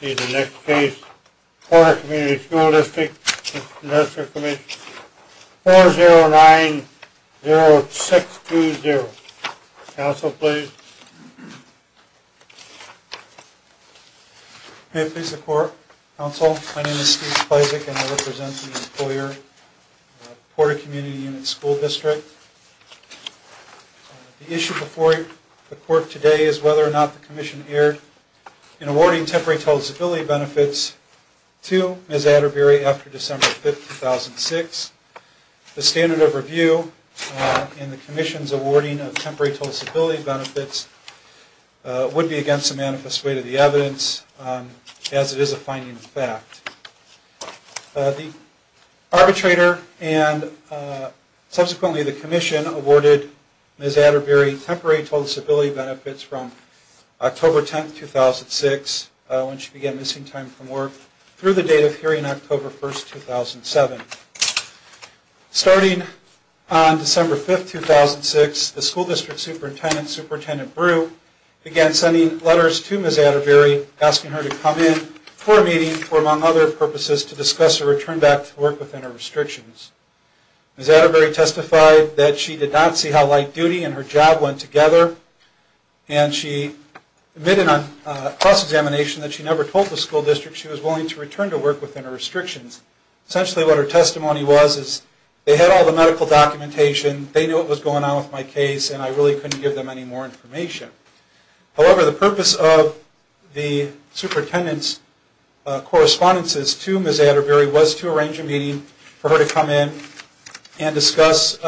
See the next case, Porta Comm'n School Distri. v. Industrial Comm'n, 4090620. Counsel, please. May it please the Court, Counsel, my name is Steve Splezek, and I represent the employer, Porta Comm'n School Distri. The issue before the Court today is whether or not the Commission erred in awarding Temporary Tolerance Ability Benefits to Ms. Atterbury after December 5, 2006. The standard of review in the Commission's awarding of Temporary Tolerance Ability Benefits would be against the manifest weight of the evidence, as it is a finding of fact. The arbitrator and subsequently the Commission awarded Ms. Atterbury Temporary Tolerance Ability Benefits from October 10, 2006, when she began missing time from work, through the date of hearing, October 1, 2007. Starting on December 5, 2006, the School District Superintendent, Superintendent Brew, began sending letters to Ms. Atterbury asking her to come in for a meeting for, among other purposes, to discuss her return back to work within her restrictions. Ms. Atterbury testified that she did not see how light duty and her job went together, and she admitted on cross-examination that she never told the School District she was willing to return to work within her restrictions. Essentially what her testimony was is, they had all the medical documentation, they knew what was going on with my case, and I really couldn't give them any more information. However, the purpose of the Superintendent's correspondences to Ms. Atterbury was to arrange a meeting for her to come in and discuss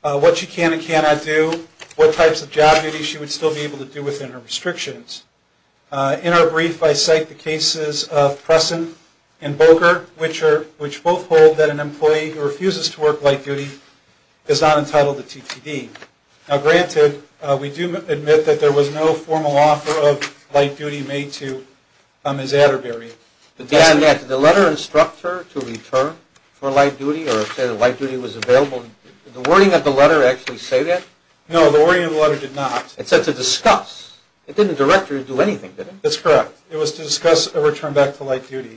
what she can and cannot do, what types of job duties she would still be able to do within her restrictions. In our brief, I cite the cases of Pressen and Boker, which both hold that an employee who refuses to work light duty is not entitled to TTD. Now granted, we do admit that there was no formal offer of light duty made to Ms. Atterbury. But Dan, did the letter instruct her to return for light duty, or say that light duty was available? Did the wording of the letter actually say that? No, the wording of the letter did not. It said to discuss. It didn't direct her to do anything, did it? That's correct. It was to discuss a return back to light duty.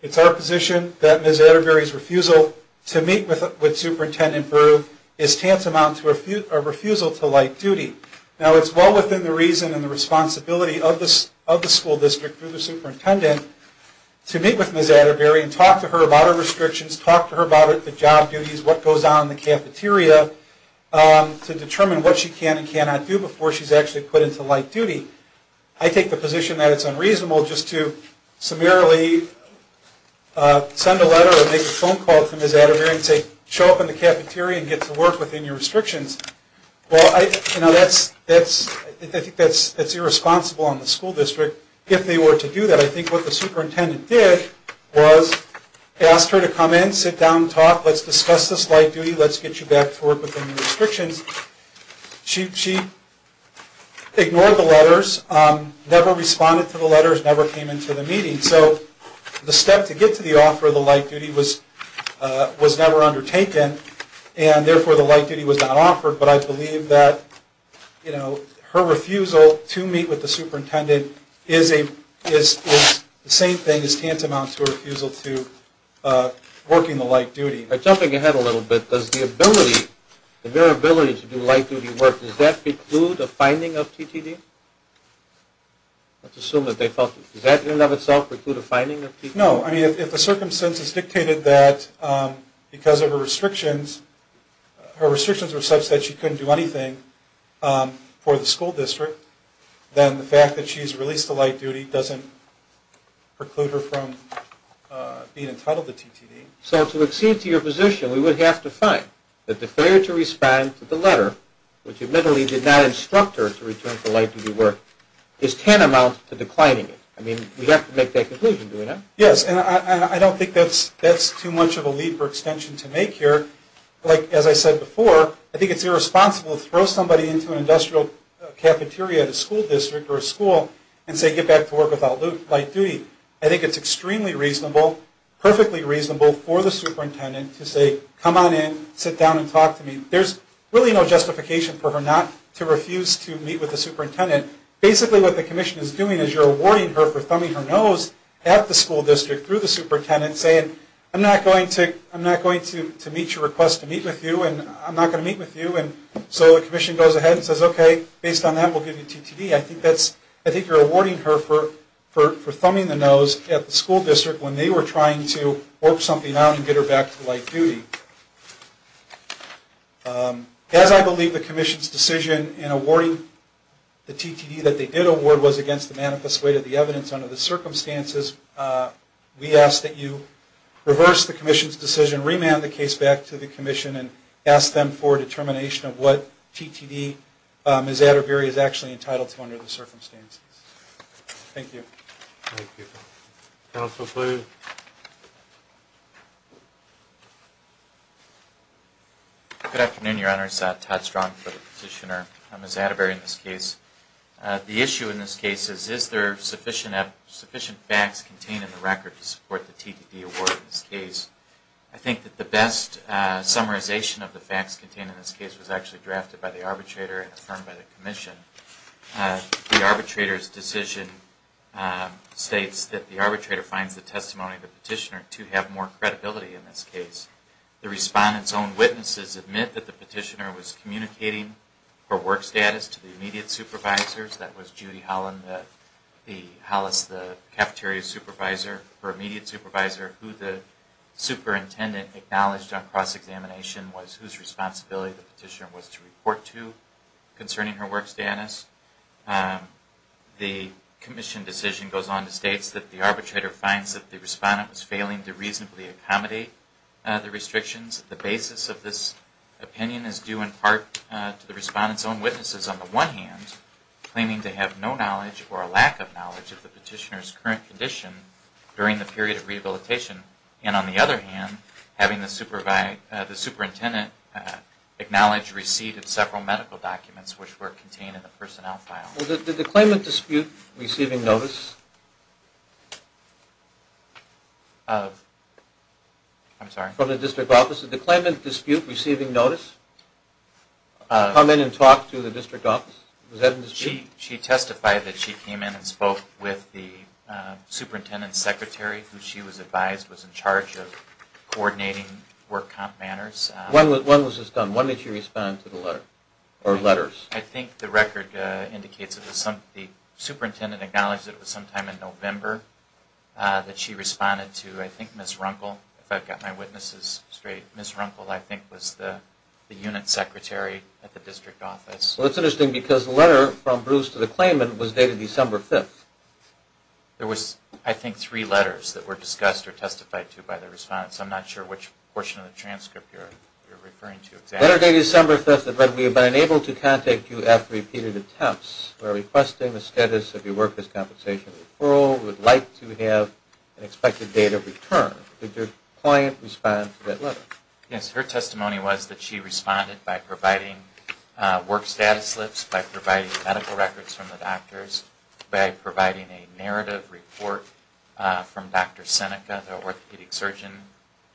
It's our position that Ms. Atterbury's refusal to meet with Superintendent Beru is tantamount to a refusal to light duty. Now it's well within the reason and the responsibility of the school district, through the superintendent, to meet with Ms. Atterbury and talk to her about her restrictions, talk to her about the job duties, what goes on in the cafeteria, to determine what she can and cannot do before she's actually put into light duty. I take the position that it's unreasonable just to summarily send a letter or make a phone call to Ms. Atterbury and say, show up in the cafeteria and get to work within your restrictions. Well, I think that's irresponsible on the school district if they were to do that. I think what the superintendent did was ask her to come in, sit down, talk, let's discuss this light duty, let's get you back to work within your restrictions. She ignored the letters, never responded to the letters, never came into the meeting. So the step to get to the offer of the light duty was never undertaken and therefore the light duty was not offered. But I believe that her refusal to meet with the superintendent is the same thing as tantamount to a refusal to work in the light duty. Jumping ahead a little bit, does the ability, the mere ability to do light duty work, does that preclude a finding of TTD? Let's assume that they felt, does that in and of itself preclude a finding of TTD? No, I mean if the circumstances dictated that because of her restrictions, her restrictions were such that she couldn't do anything for the school district, then the fact that she's released to light duty doesn't preclude her from being entitled to TTD. So to accede to your position, we would have to find that the failure to respond to the letter, which admittedly did not instruct her to return to light duty work, is tantamount to declining it. I mean we have to make that conclusion, do we not? Yes, and I don't think that's too much of a leap or extension to make here. Like as I said before, I think it's irresponsible to throw somebody into an industrial cafeteria at a school district or a school and say get back to work without light duty. I think it's extremely reasonable, perfectly reasonable for the superintendent to say, come on in, sit down and talk to me. There's really no justification for her not to refuse to meet with the superintendent. Basically what the commission is doing is you're awarding her for thumbing her nose at the school district through the superintendent saying I'm not going to meet your request to meet with you and I'm not going to meet with you. So the commission goes ahead and says okay, based on that we'll give you TTD. I think you're awarding her for thumbing the nose at the school district when they were trying to work something out and get her back to light duty. As I believe the commission's decision in awarding the TTD that they did award was against the manifest weight of the evidence under the circumstances, we ask that you reverse the commission's decision, remand the case back to the commission and ask them for a determination of what TTD Ms. Atterbury is actually entitled to under the circumstances. Thank you. Counsel, please. Good afternoon, Your Honors. Todd Strong for the petitioner. Ms. Atterbury in this case. The issue in this case is, is there sufficient facts contained in the record to support the TTD award in this case? I think that the best summarization of the facts contained in this case was actually drafted by the arbitrator and affirmed by the commission. The arbitrator's decision states that the arbitrator finds the testimony of the petitioner to have more credibility in this case. The respondent's own witnesses admit that the petitioner was communicating her work status to the immediate supervisors. That was Judy Hollis, the cafeteria supervisor, her immediate supervisor, who the superintendent acknowledged on cross-examination was whose responsibility the petitioner was to report to concerning her work status. The commission decision goes on to state that the arbitrator finds that the respondent was failing to reasonably accommodate the restrictions. The basis of this opinion is due in part to the respondent's own witnesses, on the one hand, claiming to have no knowledge or a lack of knowledge of the petitioner's current condition during the period of rehabilitation, and on the other hand, having the superintendent acknowledge receipt of several medical documents which were contained in the personnel file. Did the claimant dispute receiving notice from the district office? Did the claimant dispute receiving notice come in and talk to the district office? She testified that she came in and spoke with the superintendent's secretary, who she was advised was in charge of coordinating work comp matters. When was this done? When did she respond to the letter or letters? I think the record indicates that the superintendent acknowledged that it was sometime in November that she responded to, I think, Ms. Runkle, if I've got my witnesses straight. Ms. Runkle, I think, was the unit secretary at the district office. Well, it's interesting because the letter from Bruce to the claimant was dated December 5th. There was, I think, three letters that were discussed or testified to by the respondents. I'm not sure which portion of the transcript you're referring to exactly. Letter dated December 5th that read, We have been unable to contact you after repeated attempts. We are requesting the status of your work as compensation referral. We would like to have an expected date of return. Did your client respond to that letter? Yes, her testimony was that she responded by providing work status slips, by providing medical records from the doctors, by providing a narrative report from Dr. Seneca, the orthopedic surgeon,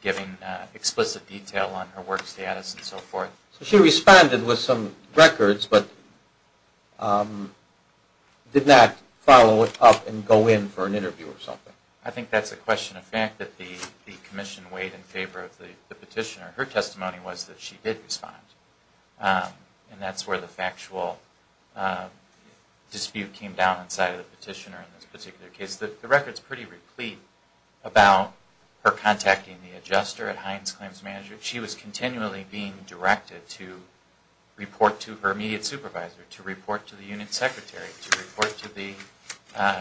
giving explicit detail on her work status and so forth. So she responded with some records, but did not follow it up and go in for an interview or something? I think that's a question of fact that the commission weighed in favor of the petitioner. Her testimony was that she did respond. And that's where the factual dispute came down inside of the petitioner in this particular case. The record is pretty replete about her contacting the adjuster at Heinz Claims Management. She was continually being directed to report to her immediate supervisor, to report to the unit secretary, to report to the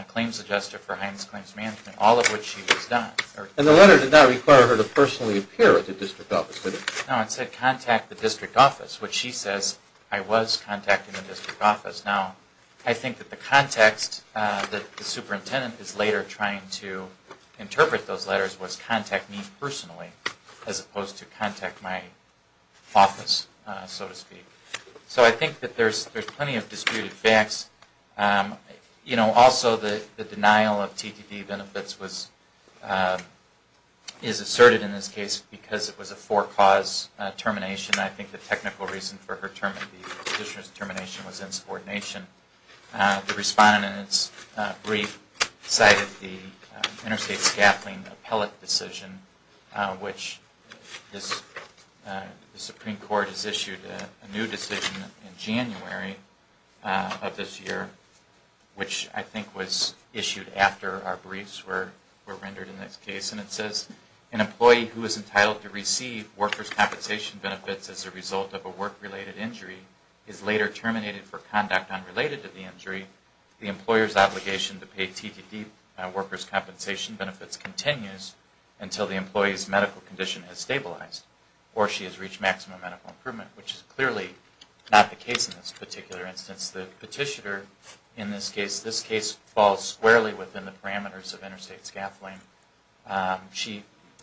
claims adjuster for Heinz Claims Management, all of which she was not. And the letter did not require her to personally appear at the district office, did it? No, it said contact the district office, which she says I was contacting the district office. Now, I think that the context that the superintendent is later trying to interpret those letters was contact me personally as opposed to contact my office, so to speak. So I think that there's plenty of disputed facts. Also, the denial of TDD benefits is asserted in this case because it was a four-cause termination. I think the technical reason for her petitioner's termination was insubordination. The respondent in its brief cited the interstate scaffolding appellate decision, which the Supreme Court has issued a new decision in January of this year, which I think was issued after our briefs were rendered in this case. And it says an employee who is entitled to receive workers' compensation benefits as a result of a work-related injury is later terminated for conduct unrelated to the injury. The employer's obligation to pay TDD workers' compensation benefits continues until the employee's medical condition has stabilized or she has reached maximum medical improvement, which is clearly not the case in this particular instance. The petitioner in this case falls squarely within the parameters of interstate scaffolding.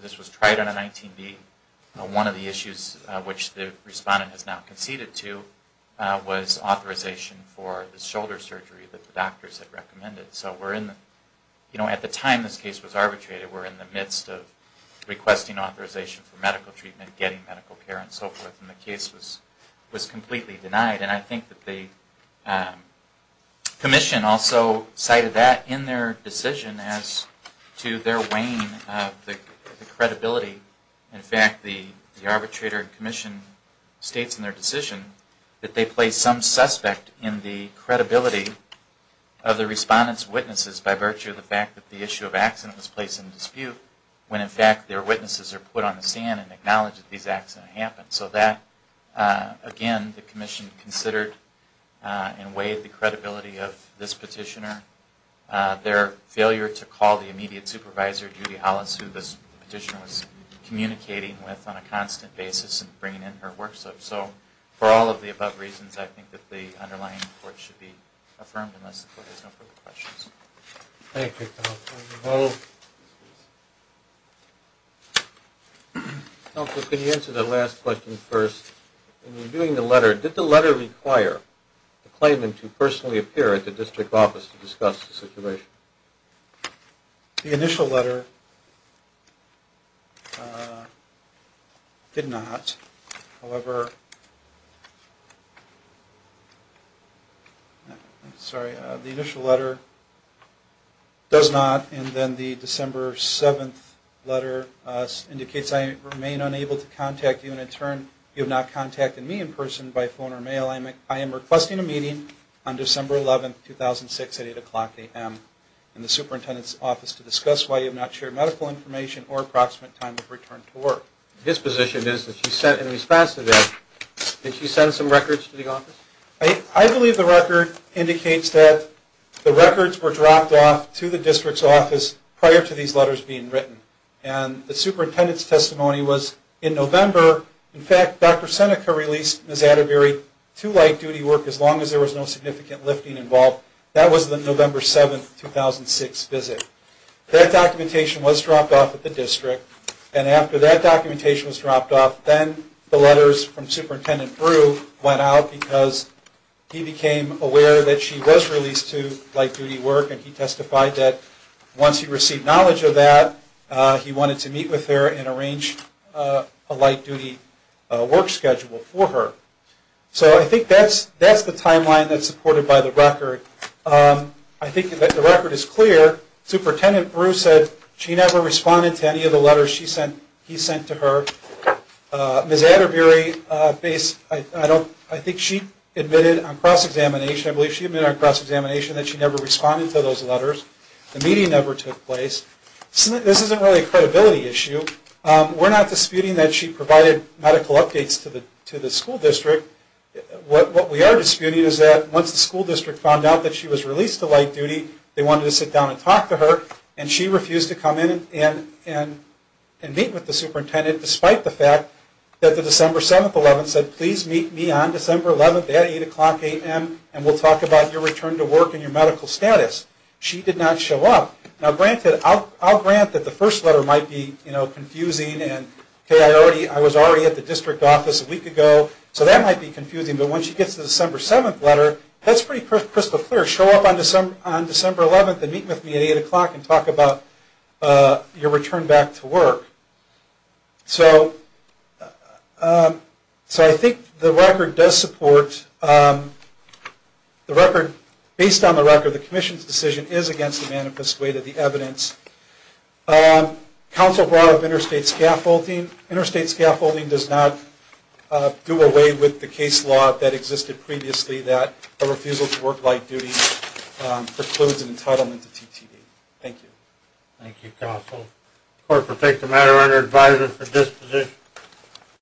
This was tried on a 19B. One of the issues which the respondent has now conceded to was authorization for the shoulder surgery that the doctors had recommended. So at the time this case was arbitrated, we're in the midst of requesting authorization for medical treatment, getting medical care, and so forth. And the case was completely denied. And I think that the commission also cited that in their decision as to their wane of the credibility. In fact, the arbitrator and commission states in their decision that they place some suspect in the credibility of the respondent's witnesses by virtue of the fact that the issue of accident was placed in dispute, when in fact their witnesses are put on the stand and acknowledged that these accidents happened. So that, again, the commission considered and weighed the credibility of this petitioner. Their failure to call the immediate supervisor, Judy Hollis, who this petitioner was communicating with on a constant basis and bringing in her work. So for all of the above reasons, I think that the underlying report should be affirmed unless the court has no further questions. Thank you. Counsel, can you answer the last question first? In reviewing the letter, did the letter require the claimant to personally appear at the district office to discuss the situation? The initial letter did not. However... Sorry, the initial letter does not, and then the December 7th letter indicates I remain unable to contact you. And in turn, you have not contacted me in person by phone or mail. I am requesting a meeting on December 11th, 2006 at 8 o'clock a.m. in the superintendent's office to discuss why you have not shared medical information or approximate time of return to work. His position is that in response to that, did she send some records to the office? The first record indicates that the records were dropped off to the district's office prior to these letters being written. And the superintendent's testimony was in November. In fact, Dr. Seneca released Ms. Atterbury to light duty work as long as there was no significant lifting involved. That was the November 7th, 2006 visit. That documentation was dropped off at the district, and after that documentation was dropped off, then the letters from Superintendent Brew went out because he became aware that she was released to light duty work. And he testified that once he received knowledge of that, he wanted to meet with her and arrange a light duty work schedule for her. So I think that's the timeline that's supported by the record. I think that the record is clear. Superintendent Brew said she never responded to any of the letters he sent to her. Ms. Atterbury, I think she admitted on cross-examination, I believe she admitted on cross-examination that she never responded to those letters. The meeting never took place. This isn't really a credibility issue. We're not disputing that she provided medical updates to the school district. What we are disputing is that once the school district found out that she was released to light duty, they wanted to sit down and talk to her. And she refused to come in and meet with the superintendent despite the fact that the December 7th, 2011 said, please meet me on December 11th at 8 o'clock a.m. and we'll talk about your return to work and your medical status. She did not show up. Now granted, I'll grant that the first letter might be confusing. I was already at the district office a week ago, so that might be confusing. But once she gets the December 7th letter, that's pretty crystal clear. Show up on December 11th and meet with me at 8 o'clock and talk about your return back to work. So I think the record does support, based on the record, the commission's decision is against the manifest way to the evidence. Counsel brought up interstate scaffolding. Interstate scaffolding does not do away with the case law that existed previously that a refusal to work light duty precludes an entitlement to TTD. Thank you.